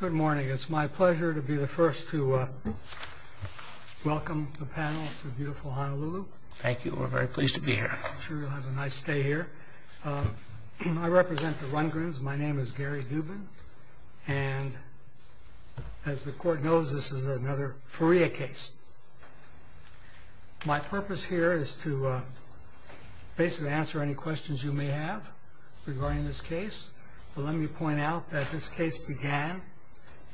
Good morning. It's my pleasure to be the first to welcome the panel to beautiful Honolulu. Thank you. We're very pleased to be here. I'm sure you'll have a nice stay here. I represent the Rundgrens. My name is Gary Dubin. And as the Court knows, this is another FURIA case. My purpose here is to basically answer any questions you may have regarding this case. But let me point out that this case began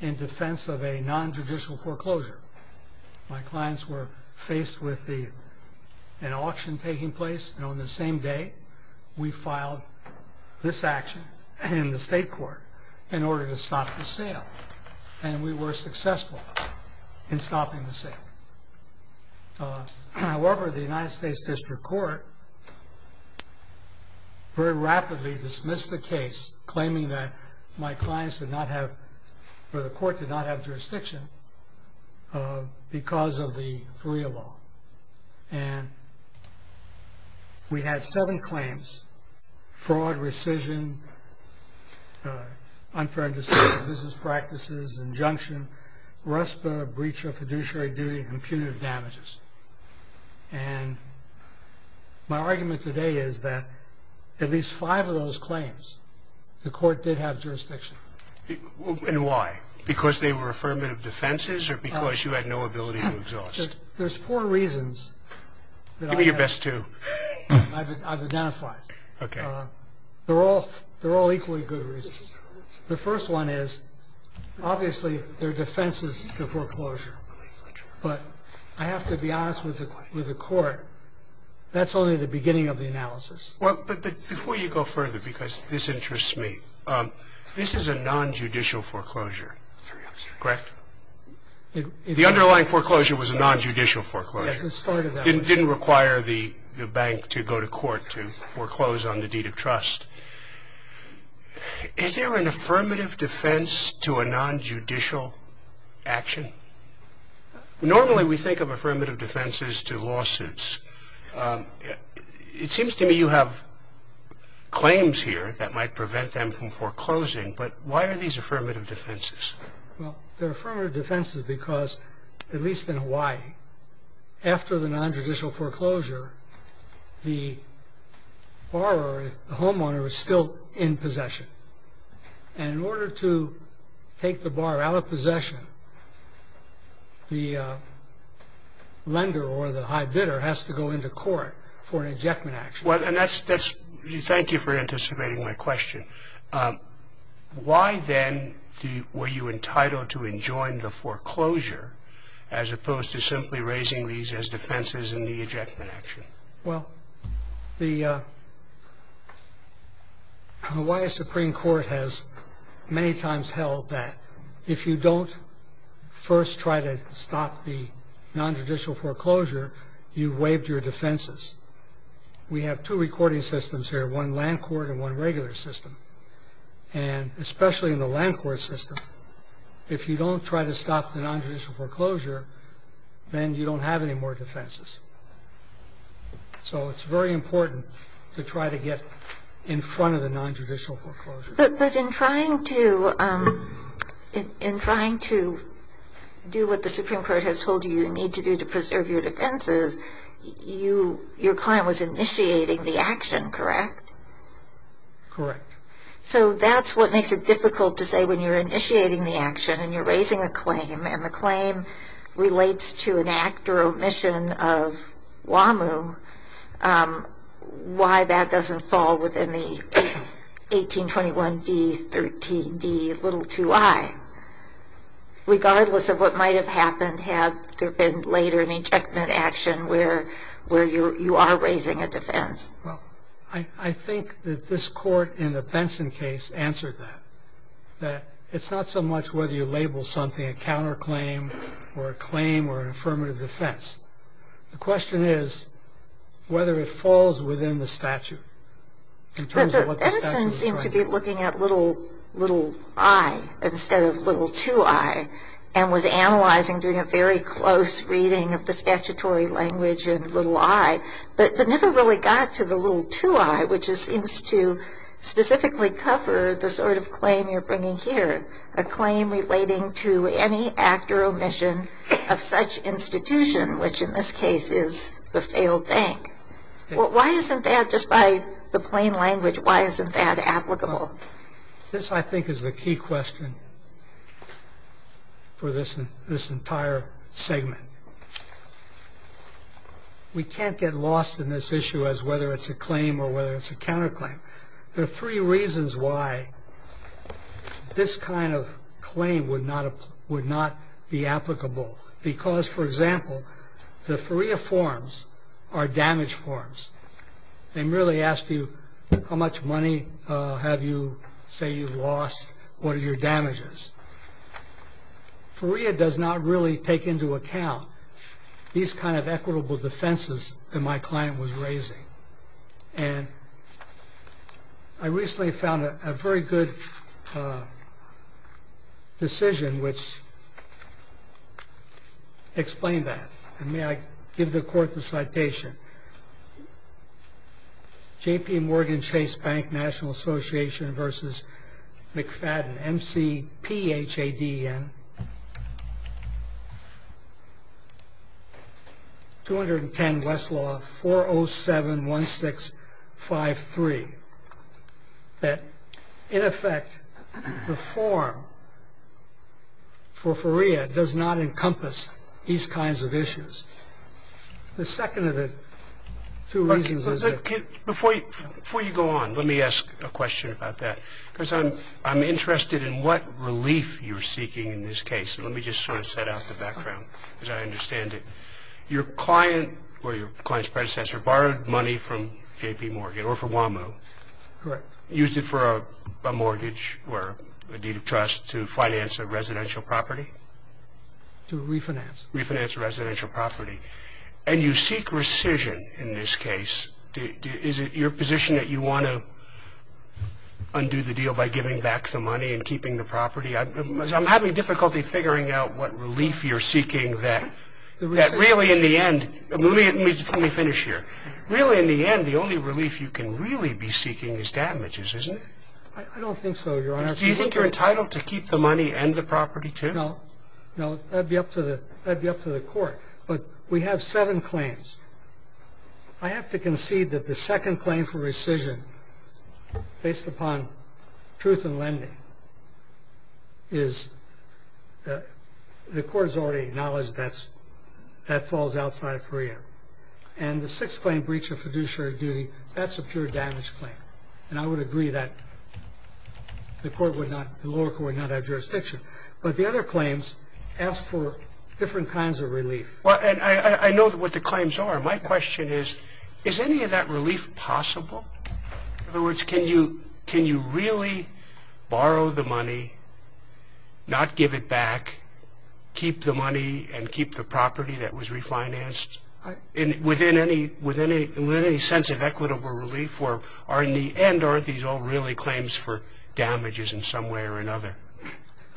in defense of a non-judicial foreclosure. My clients were faced with an auction taking place. And on the same day, we filed this action in the state court in order to stop the sale. And we were successful in stopping the sale. However, the United States District Court very rapidly dismissed the case, claiming that my clients did not have, or the court did not have jurisdiction because of the FURIA law. And we had seven claims, fraud, rescission, unfair and deceitful business practices, injunction, RESPA, breach of fiduciary duty, and punitive damages. And my argument today is that at least five of those claims, the court did have jurisdiction. And why? Because they were affirmative defenses or because you had no ability to exhaust? There's four reasons. Give me your best two. I've identified. Okay. They're all equally good reasons. The first one is, obviously, their defense is the foreclosure. But I have to be honest with the court, that's only the beginning of the analysis. Well, but before you go further, because this interests me, this is a non-judicial foreclosure, correct? The underlying foreclosure was a non-judicial foreclosure. It didn't require the bank to go to court to foreclose on the deed of trust. Is there an affirmative defense to a non-judicial action? Normally, we think of affirmative defenses to lawsuits. It seems to me you have claims here that might prevent them from foreclosing. But why are these affirmative defenses? Well, they're affirmative defenses because, at least in Hawaii, after the non-judicial foreclosure, the borrower, the homeowner, is still in possession. And in order to take the borrower out of possession, the lender or the high bidder has to go into court for an injectment action. Thank you for anticipating my question. Why then were you entitled to enjoin the foreclosure as opposed to simply raising these as defenses in the injectment action? Well, the Hawaii Supreme Court has many times held that if you don't first try to stop the non-judicial foreclosure, you've waived your defenses. We have two recording systems here, one land court and one regular system. And especially in the land court system, if you don't try to stop the non-judicial foreclosure, then you don't have any more defenses. So it's very important to try to get in front of the non-judicial foreclosure. But in trying to do what the Supreme Court has told you you need to do to preserve your defenses, your client was initiating the action, correct? Correct. So that's what makes it difficult to say when you're initiating the action and you're raising a claim and the claim relates to an act or omission of WAMU, why that doesn't fall within the 1821d, 13d, little 2i, regardless of what might have happened had there been later an injectment action where you are raising a defense. Well, I think that this court in the Benson case answered that, that it's not so much whether you label something a counterclaim or a claim or an affirmative defense. The question is whether it falls within the statute. But the Benson seemed to be looking at little i instead of little 2i and was analyzing doing a very close reading of the statutory language of little i, but never really got to the little 2i, which seems to specifically cover the sort of claim you're bringing here, a claim relating to any act or omission of such institution, which in this case is the failed bank. Why isn't that, just by the plain language, why isn't that applicable? This, I think, is the key question for this entire segment. We can't get lost in this issue as whether it's a claim or whether it's a counterclaim. There are three reasons why this kind of claim would not be applicable. Because, for example, the FREA forms are damage forms. They merely ask you how much money have you, say, you've lost, what your damage is. FREA does not really take into account these kind of equitable defenses that my client was raising. And I recently found a very good decision which explained that. And may I give the court the citation? J.P. Morgan Chase Bank National Association v. McFadden, M-C-P-H-A-D-E-N. 210 Westlaw 4071653. That, in effect, the form for FREA does not encompass these kinds of issues. The second of the two reasons is that... Before you go on, let me ask a question about that. Because I'm interested in what relief you're seeking in this case. Let me just sort of set out the background, because I understand it. Your client or your client's predecessor borrowed money from J.P. Morgan or from WAMU. Correct. Used it for a mortgage or a deed of trust to finance a residential property? To refinance. Refinance a residential property. And you seek rescission in this case. Is it your position that you want to undo the deal by giving back the money and keeping the property? I'm having difficulty figuring out what relief you're seeking that really, in the end... Let me finish here. Really, in the end, the only relief you can really be seeking is damages, isn't it? I don't think so, Your Honor. Do you think you're entitled to keep the money and the property, too? No. No, that would be up to the court. But we have seven claims. I have to concede that the second claim for rescission, based upon truth in lending, is the court has already acknowledged that that falls outside of FREA. And the sixth claim, breach of fiduciary duty, that's a pure damage claim. And I would agree that the lower court would not have jurisdiction. But the other claims ask for different kinds of relief. And I know what the claims are. My question is, is any of that relief possible? In other words, can you really borrow the money, not give it back, keep the money and keep the property that was refinanced within any sense of equitable relief? And aren't these all really claims for damages in some way or another?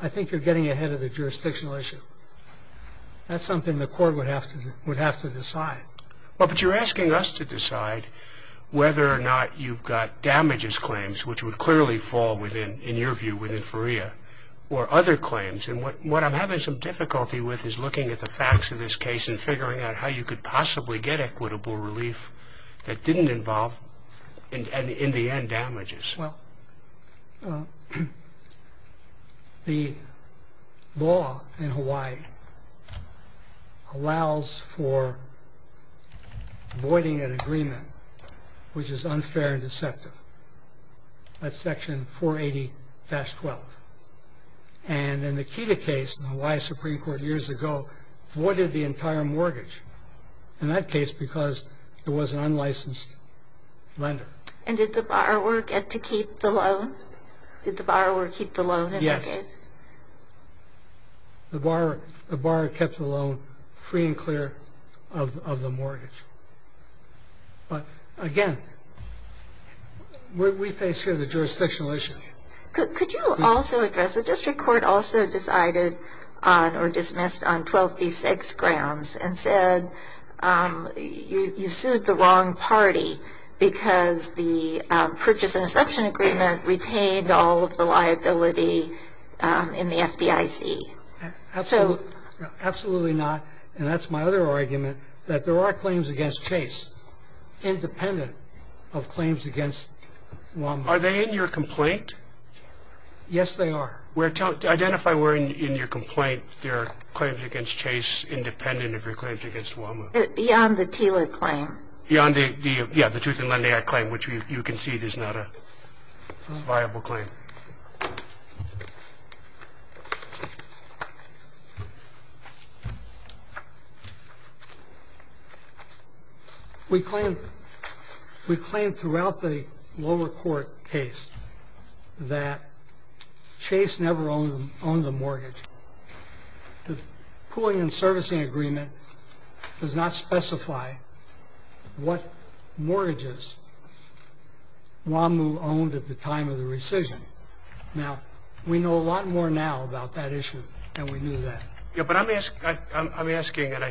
I think you're getting ahead of the jurisdictional issue. That's something the court would have to decide. But you're asking us to decide whether or not you've got damages claims, which would clearly fall, in your view, within FREA, or other claims. And what I'm having some difficulty with is looking at the facts of this case and figuring out how you could possibly get equitable relief that didn't involve, in the end, damages. Well, the law in Hawaii allows for voiding an agreement which is unfair and deceptive. That's Section 480-12. And in the KEDA case in the Hawaii Supreme Court years ago, voided the entire mortgage in that case because there was an unlicensed lender. And did the borrower get to keep the loan? Did the borrower keep the loan in that case? Yes. The borrower kept the loan free and clear of the mortgage. But, again, we face here the jurisdictional issue. Could you also address, the district court also decided or dismissed on 12b-6 grounds and said you sued the wrong party because the purchase and exception agreement retained all of the liability in the FDIC. Absolutely not. And that's my other argument, that there are claims against Chase independent of claims against WAMHA. Are they in your complaint? Yes, they are. Identify where in your complaint there are claims against Chase independent of your claims against WAMHA. Beyond the Taylor claim. Beyond the, yeah, the Truth in Lending Act claim, which you concede is not a viable claim. Thank you. We claim throughout the lower court case that Chase never owned the mortgage. The pooling and servicing agreement does not specify what mortgages WAMHA owned at the time of the rescission. Now, we know a lot more now about that issue than we knew then. Yeah, but I'm asking, and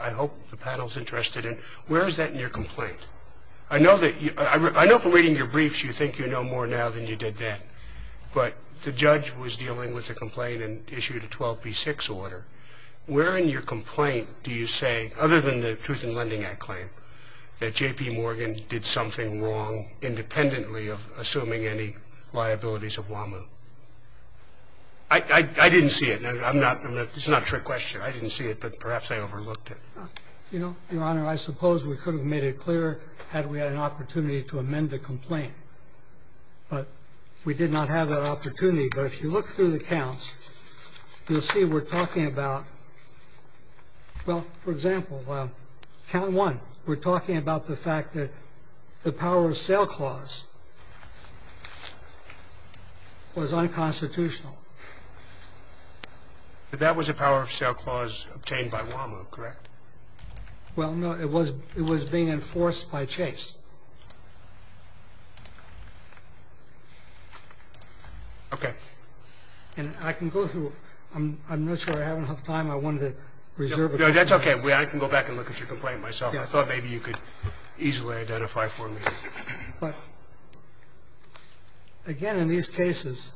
I hope the panel is interested in, where is that in your complaint? I know from reading your briefs you think you know more now than you did then. But the judge was dealing with the complaint and issued a 12B6 order. Where in your complaint do you say, other than the Truth in Lending Act claim, that J.P. Morgan did something wrong independently of assuming any liabilities of WAMHA? I didn't see it. It's not a trick question. I didn't see it, but perhaps I overlooked it. Your Honor, I suppose we could have made it clearer had we had an opportunity to amend the complaint. But we did not have that opportunity. But if you look through the counts, you'll see we're talking about, well, for example, count one. We're talking about the fact that the power of sale clause was unconstitutional. That was a power of sale clause obtained by WAMHA, correct? Well, no, it was being enforced by Chase. Okay. And I can go through. I'm not sure I have enough time. I wanted to reserve it. That's okay. I can go back and look at your complaint myself. I thought maybe you could easily identify for me. But, again, in these cases,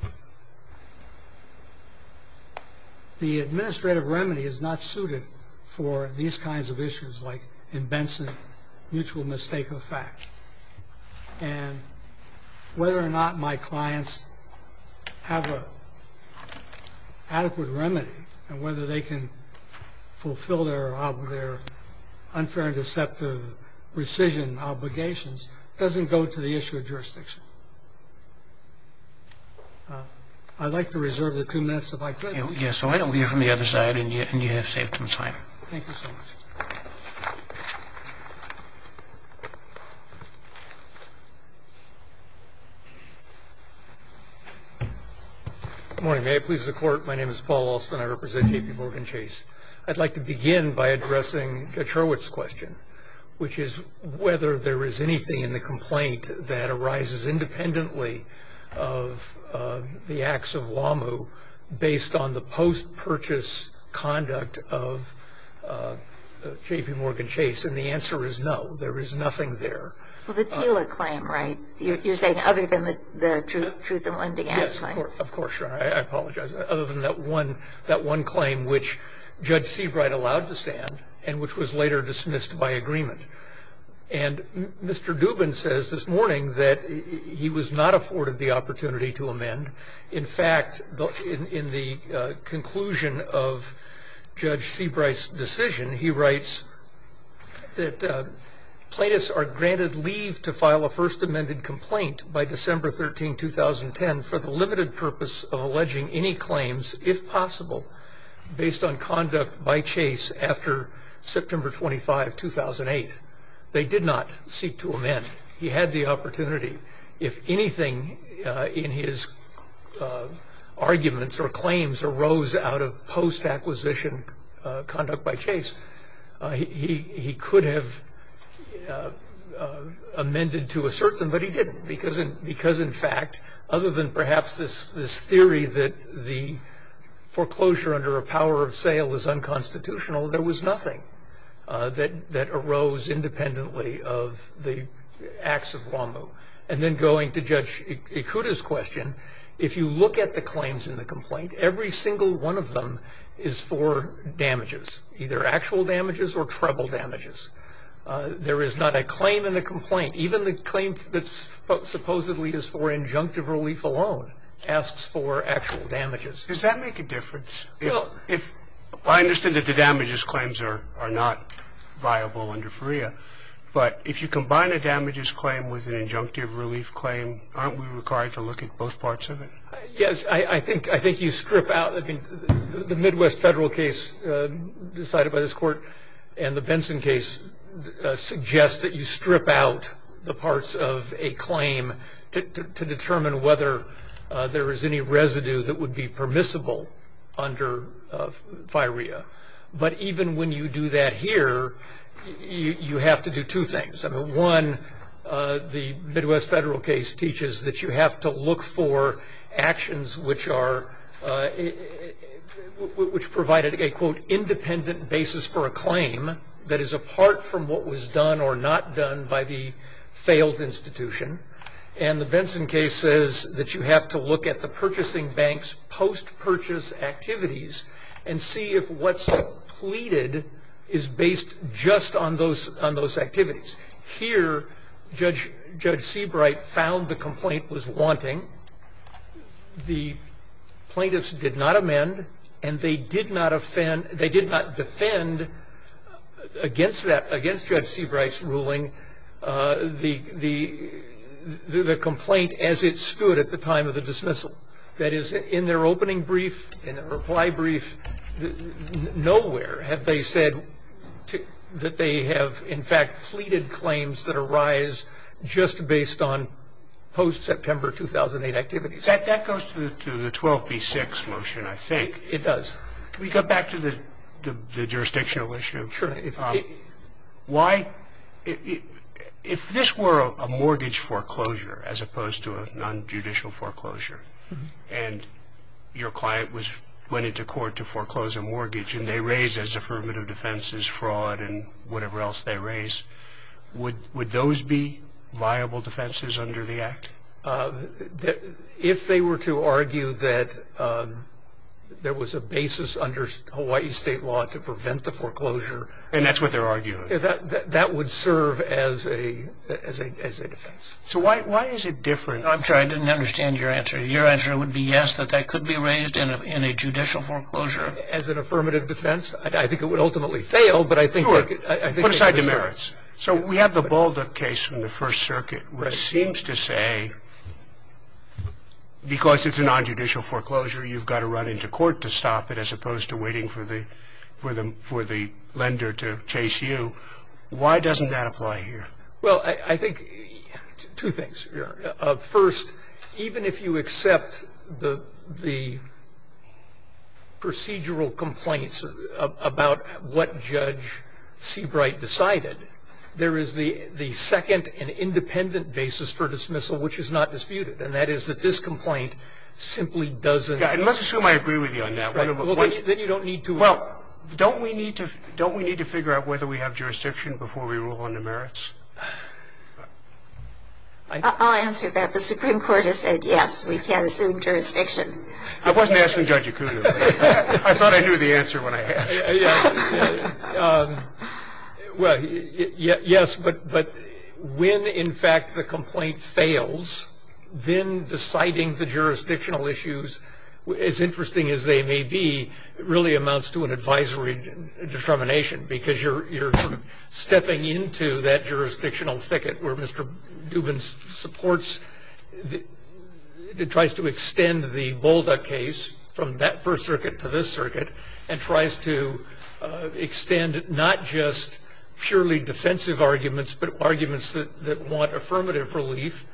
the administrative remedy is not suited for these kinds of issues, like in Benson, mutual mistake of fact. And whether or not my clients have an adequate remedy and whether they can fulfill their unfair and deceptive rescission obligations doesn't go to the issue of jurisdiction. I'd like to reserve the two minutes if I could. Yes. Why don't we hear from the other side, and you have safety and time. Thank you so much. Good morning. May it please the Court. My name is Paul Alston. I represent J.P. Morgan Chase. I'd like to begin by addressing Chetrowet's question, which is whether there is anything in the complaint that arises independently of the acts of WAMHA based on the post-purchase conduct of J.P. Morgan Chase. And the answer is no, there is nothing there. Well, the TILA claim, right? You're saying other than the Truth in Limbing Act claim? Yes, of course, Your Honor. I apologize. Other than that one claim which Judge Seabright allowed to stand and which was later dismissed by agreement. And Mr. Dubin says this morning that he was not afforded the opportunity to amend. In fact, in the conclusion of Judge Seabright's decision, he writes that plaintiffs are granted leave to file a first amended complaint by December 13, 2010, and for the limited purpose of alleging any claims, if possible, based on conduct by Chase after September 25, 2008. They did not seek to amend. He had the opportunity. If anything in his arguments or claims arose out of post-acquisition conduct by Chase, he could have amended to assert them, but he didn't. Because, in fact, other than perhaps this theory that the foreclosure under a power of sale is unconstitutional, there was nothing that arose independently of the acts of WAMU. And then going to Judge Ikuda's question, if you look at the claims in the complaint, every single one of them is for damages, either actual damages or treble damages. There is not a claim in the complaint. Even the claim that supposedly is for injunctive relief alone asks for actual damages. Does that make a difference? Well, I understand that the damages claims are not viable under FREA, but if you combine a damages claim with an injunctive relief claim, aren't we required to look at both parts of it? Yes. I think you strip out the Midwest federal case decided by this Court and the Benson case suggests that you strip out the parts of a claim to determine whether there is any residue that would be permissible under FREA. But even when you do that here, you have to do two things. I mean, one, the Midwest federal case teaches that you have to look for actions which are, which provided a, quote, independent basis for a claim that is apart from what was done or not done by the failed institution. And the Benson case says that you have to look at the purchasing bank's post-purchase activities and see if what's pleaded is based just on those activities. Here, Judge Seabright found the complaint was wanting. The plaintiffs did not amend, and they did not defend against Judge Seabright's ruling the complaint as it stood at the time of the dismissal. That is, in their opening brief, in their reply brief, nowhere have they said that they have, in fact, pleaded claims that arise just based on post-September 2008 activities. That goes to the 12B6 motion, I think. It does. Can we go back to the jurisdictional issue? Sure. Why, if this were a mortgage foreclosure as opposed to a nonjudicial foreclosure, and your client went into court to foreclose a mortgage, and they raised as affirmative defenses fraud and whatever else they raised, would those be viable defenses under the Act? If they were to argue that there was a basis under Hawaii state law to prevent the foreclosure. And that's what they're arguing. That would serve as a defense. So why is it different? I'm sorry, I didn't understand your answer. Your answer would be yes, that that could be raised in a judicial foreclosure. As an affirmative defense? I think it would ultimately fail, but I think it could be raised. Sure. Put aside demerits. So we have the Balduck case from the First Circuit, which seems to say because it's a nonjudicial foreclosure, you've got to run into court to stop it as opposed to waiting for the lender to chase you. Why doesn't that apply here? Well, I think two things. First, even if you accept the procedural complaints about what Judge Seabright decided, there is the second and independent basis for dismissal, which is not disputed, and that is that this complaint simply doesn't. And let's assume I agree with you on that. Then you don't need to. Well, don't we need to figure out whether we have jurisdiction before we rule on demerits? I'll answer that. The Supreme Court has said yes, we can assume jurisdiction. I wasn't asking Judge Ikudo. I thought I knew the answer when I asked. Well, yes, but when, in fact, the complaint fails, then deciding the jurisdictional issues, as interesting as they may be, really amounts to an advisory determination because you're sort of stepping into that jurisdictional thicket where Mr. Dubin supports, tries to extend the Balduck case from that First Circuit to this circuit and tries to extend not just purely defensive arguments but arguments that want affirmative relief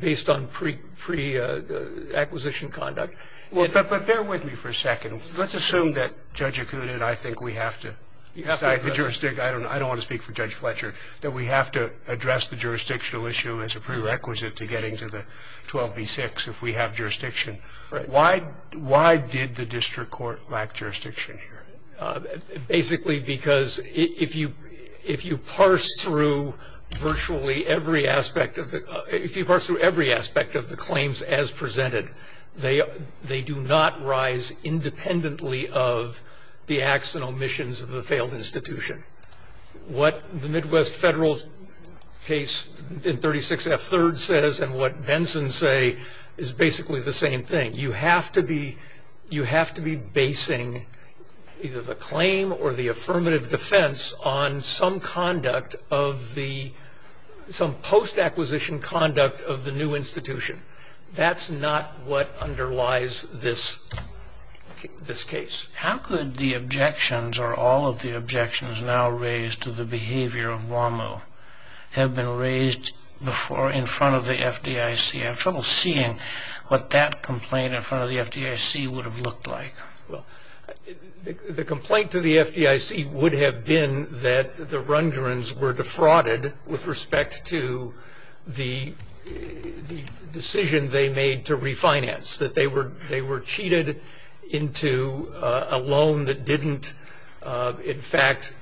based on pre-acquisition conduct. But bear with me for a second. Let's assume that Judge Ikudo and I think we have to decide the jurisdiction. I don't want to speak for Judge Fletcher, that we have to address the jurisdictional issue as a prerequisite to getting to the 12b-6 if we have jurisdiction. Why did the district court lack jurisdiction here? Basically because if you parse through virtually every aspect of the claims as presented, they do not rise independently of the acts and omissions of the failed institution. What the Midwest Federal case in 36F3rd says and what Benson say is basically the same thing. You have to be basing either the claim or the affirmative defense on some post-acquisition conduct of the new institution. That's not what underlies this case. How could the objections or all of the objections now raised to the behavior of WAMU have been raised before in front of the FDIC? I have trouble seeing what that complaint in front of the FDIC would have looked like. The complaint to the FDIC would have been that the Rundgrens were defrauded with respect to the decision they made to refinance, that they were cheated into a loan that didn't in fact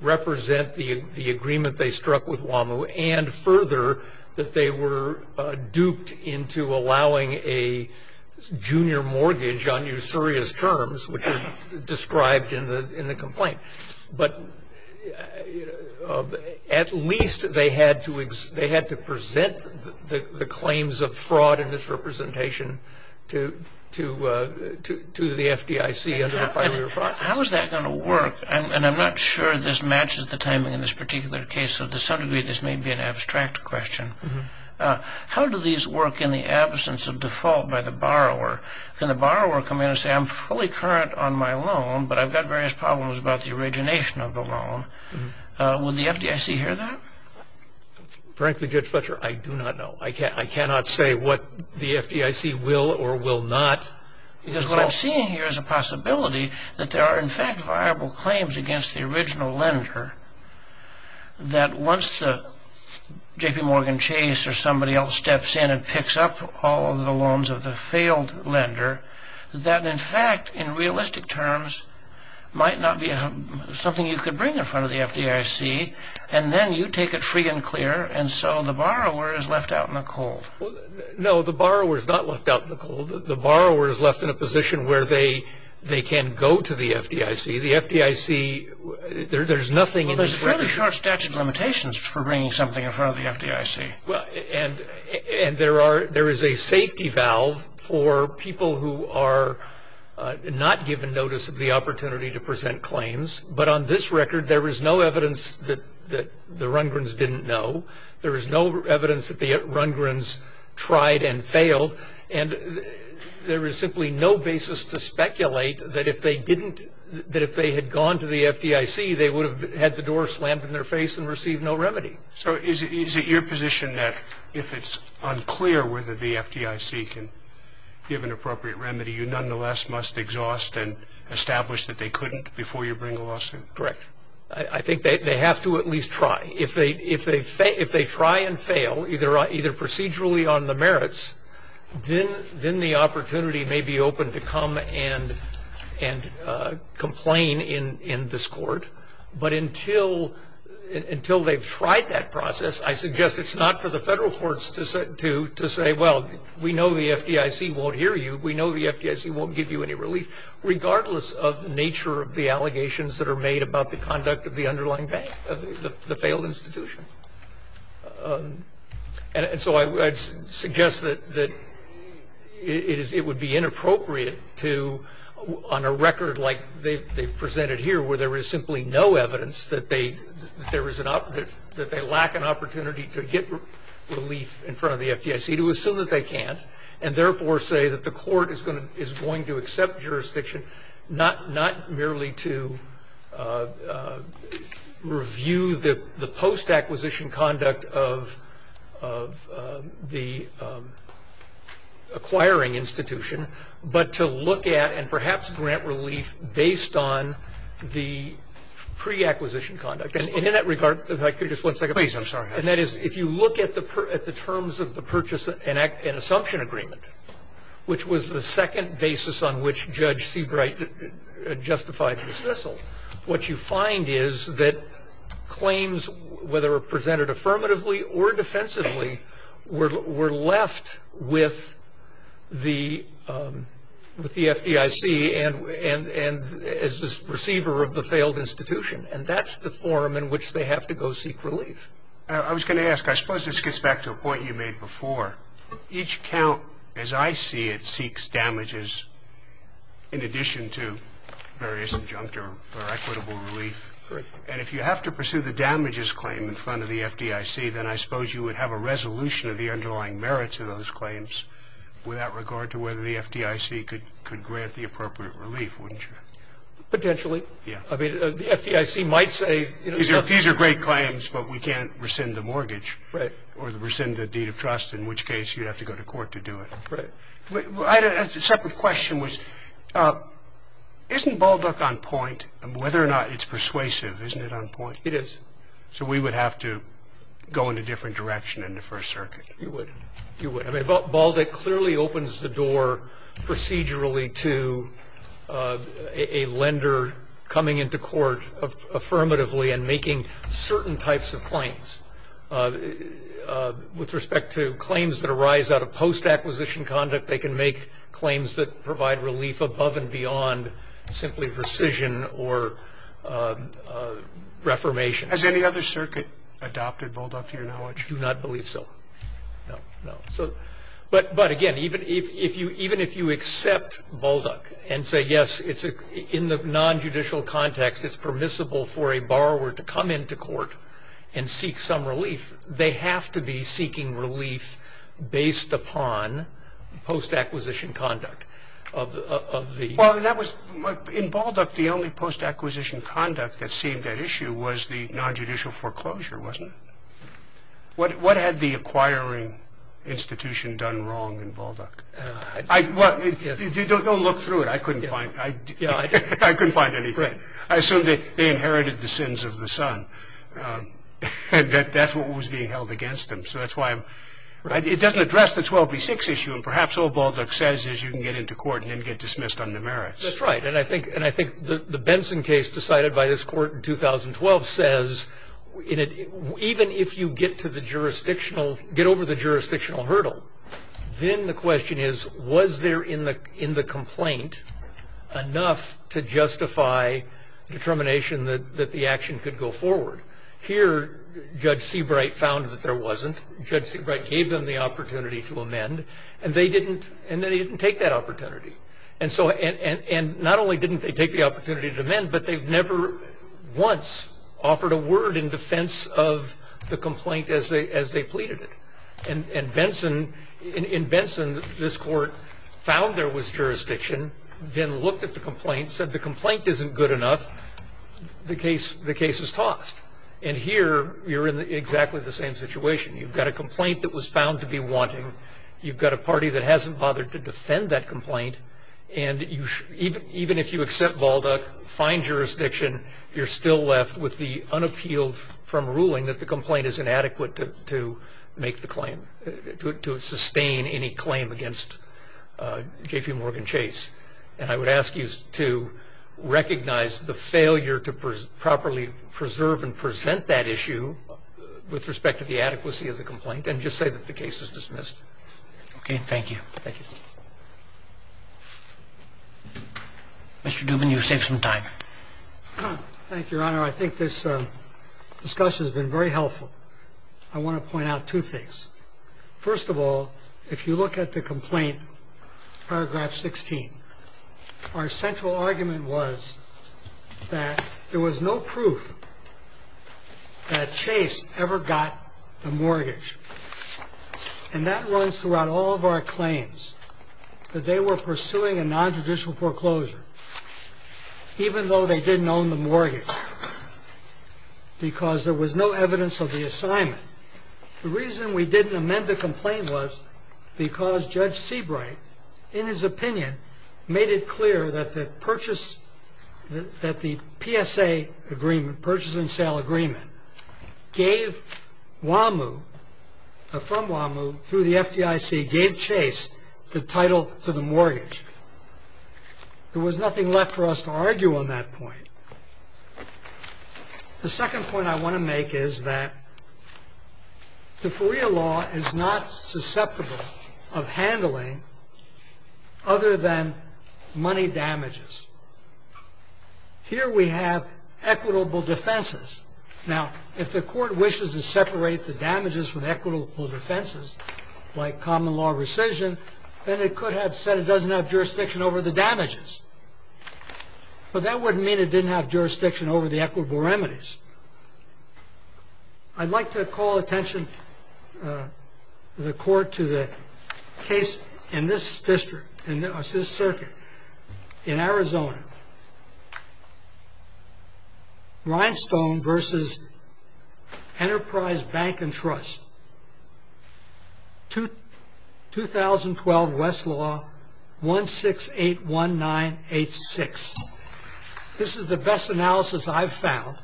represent the agreement they struck with WAMU, and further that they were duped into allowing a junior mortgage on usurious terms, which are described in the complaint. But at least they had to present the claims of fraud and misrepresentation to the FDIC under a five-year process. How is that going to work? I'm not sure this matches the timing in this particular case, so to some degree this may be an abstract question. How do these work in the absence of default by the borrower? Can the borrower come in and say, I'm fully current on my loan, but I've got various problems about the origination of the loan. Would the FDIC hear that? Frankly, Judge Fletcher, I do not know. I cannot say what the FDIC will or will not. Because what I'm seeing here is a possibility that there are in fact viable claims against the original lender that once the J.P. Morgan Chase or somebody else steps in and picks up all of the loans of the failed lender, that in fact, in realistic terms, might not be something you could bring in front of the FDIC, and then you take it free and clear, and so the borrower is left out in the cold. No, the borrower is not left out in the cold. The borrower is left in a position where they can go to the FDIC. The FDIC, there's nothing in this way. Well, there's a fairly short statute of limitations for bringing something in front of the FDIC. And there is a safety valve for people who are not given notice of the opportunity to present claims. But on this record, there is no evidence that the Rundgrens didn't know. There is no evidence that the Rundgrens tried and failed. And there is simply no basis to speculate that if they had gone to the FDIC, they would have had the door slammed in their face and received no remedy. So is it your position that if it's unclear whether the FDIC can give an appropriate remedy, you nonetheless must exhaust and establish that they couldn't before you bring a lawsuit? Correct. I think they have to at least try. If they try and fail, either procedurally on the merits, then the opportunity may be open to come and complain in this court. But until they've tried that process, I suggest it's not for the federal courts to say, well, we know the FDIC won't hear you. We know the FDIC won't give you any relief, regardless of the nature of the allegations that are made about the conduct of the underlying bank, the failed institution. And so I would suggest that it would be inappropriate to, on a record like they've presented here, where there is simply no evidence that they lack an opportunity to get relief in front of the FDIC, to assume that they can't and therefore say that the court is going to accept jurisdiction, not merely to review the post-acquisition conduct of the acquiring institution, but to look at and perhaps grant relief based on the pre-acquisition conduct. And in that regard, if I could just one second. Please, I'm sorry. And that is, if you look at the terms of the purchase and assumption agreement, which was the second basis on which Judge Seabright justified the dismissal, what you find is that claims, whether presented affirmatively or defensively, were left with the FDIC as the receiver of the failed institution. And that's the form in which they have to go seek relief. I was going to ask, I suppose this gets back to a point you made before. Each count, as I see it, seeks damages in addition to various injunctive or equitable relief. And if you have to pursue the damages claim in front of the FDIC, then I suppose you would have a resolution of the underlying merits of those claims without regard to whether the FDIC could grant the appropriate relief, wouldn't you? Potentially. Yeah. I mean, the FDIC might say, you know. These are great claims, but we can't rescind the mortgage. Right. Or rescind the deed of trust, in which case you'd have to go to court to do it. Right. I had a separate question was, isn't Balduck on point? And whether or not it's persuasive, isn't it on point? It is. So we would have to go in a different direction in the First Circuit. You would. You would. I mean, Balduck clearly opens the door procedurally to a lender coming into court affirmatively and making certain types of claims. With respect to claims that arise out of post-acquisition conduct, they can make claims that provide relief above and beyond simply rescission or reformation. Has any other circuit adopted Balduck to your knowledge? I do not believe so. No. No. But, again, even if you accept Balduck and say, yes, in the nonjudicial context, it's permissible for a borrower to come into court and seek some relief, they have to be seeking relief based upon post-acquisition conduct. Well, in Balduck, the only post-acquisition conduct that seemed at issue was the nonjudicial foreclosure, wasn't it? What had the acquiring institution done wrong in Balduck? Don't look through it. I couldn't find anything. I assume they inherited the sins of the son. That's what was being held against them. So that's why I'm right. It doesn't address the 12B6 issue. And perhaps all Balduck says is you can get into court and then get dismissed under merits. That's right. And I think the Benson case decided by this court in 2012 says, even if you get over the jurisdictional hurdle, then the question is, was there in the complaint enough to justify determination that the action could go forward? Here, Judge Seabright found that there wasn't. Judge Seabright gave them the opportunity to amend, and they didn't take that opportunity. And not only didn't they take the opportunity to amend, but they never once offered a word in defense of the complaint as they pleaded it. And in Benson, this court found there was jurisdiction, then looked at the complaint, said the complaint isn't good enough, the case is tossed. And here you're in exactly the same situation. You've got a complaint that was found to be wanting. You've got a party that hasn't bothered to defend that complaint. And even if you accept Balduck, find jurisdiction, you're still left with the unappealed from ruling that the complaint is inadequate to make the claim, to sustain any claim against J.P. Morgan Chase. And I would ask you to recognize the failure to properly preserve and present that issue with respect to the adequacy of the complaint and just say that the case is dismissed. Okay. Thank you. Thank you. Mr. Dubin, you've saved some time. Thank you, Your Honor. I think this discussion has been very helpful. I want to point out two things. First of all, if you look at the complaint, paragraph 16, our central argument was that there was no proof that Chase ever got the mortgage. And that runs throughout all of our claims, that they were pursuing a nontraditional foreclosure. Even though they didn't own the mortgage, because there was no evidence of the assignment. The reason we didn't amend the complaint was because Judge Seabright, in his opinion, made it clear that the purchase, that the PSA agreement, purchase and sale agreement, gave WAMU, from WAMU through the FDIC, gave Chase the title to the mortgage. There was nothing left for us to argue on that point. The second point I want to make is that the FREA law is not susceptible of handling other than money damages. Here we have equitable defenses. Now, if the court wishes to separate the damages from equitable defenses, like common law rescission, then it could have said it doesn't have jurisdiction over the damages. But that wouldn't mean it didn't have jurisdiction over the equitable remedies. I'd like to call attention, the court, to the case in this district, in this circuit, in Arizona. Rhinestone v. Enterprise Bank and Trust, 2012 Westlaw 1681986. This is the best analysis I've found.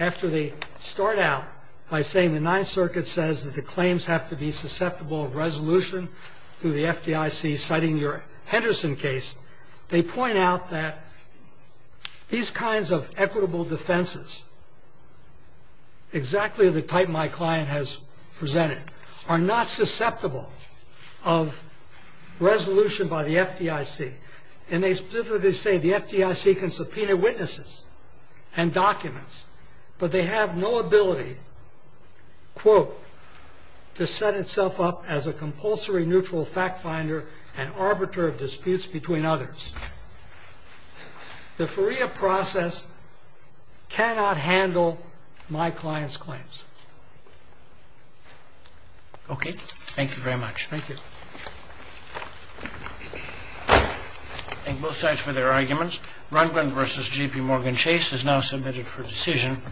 After they start out by saying the Ninth Circuit says that the claims have to be susceptible of resolution through the FDIC, citing your Henderson case, they point out that these kinds of equitable defenses, exactly the type my client has presented, are not susceptible of resolution by the FDIC. And they specifically say the FDIC can subpoena witnesses and documents, but they have no ability, quote, to set itself up as a compulsory neutral fact finder and arbiter of disputes between others. The FREA process cannot handle my client's claims. Okay, thank you very much. Thank you. Thank both sides for their arguments. Rundgren v. G.P. Morgan Chase is now submitted for decision.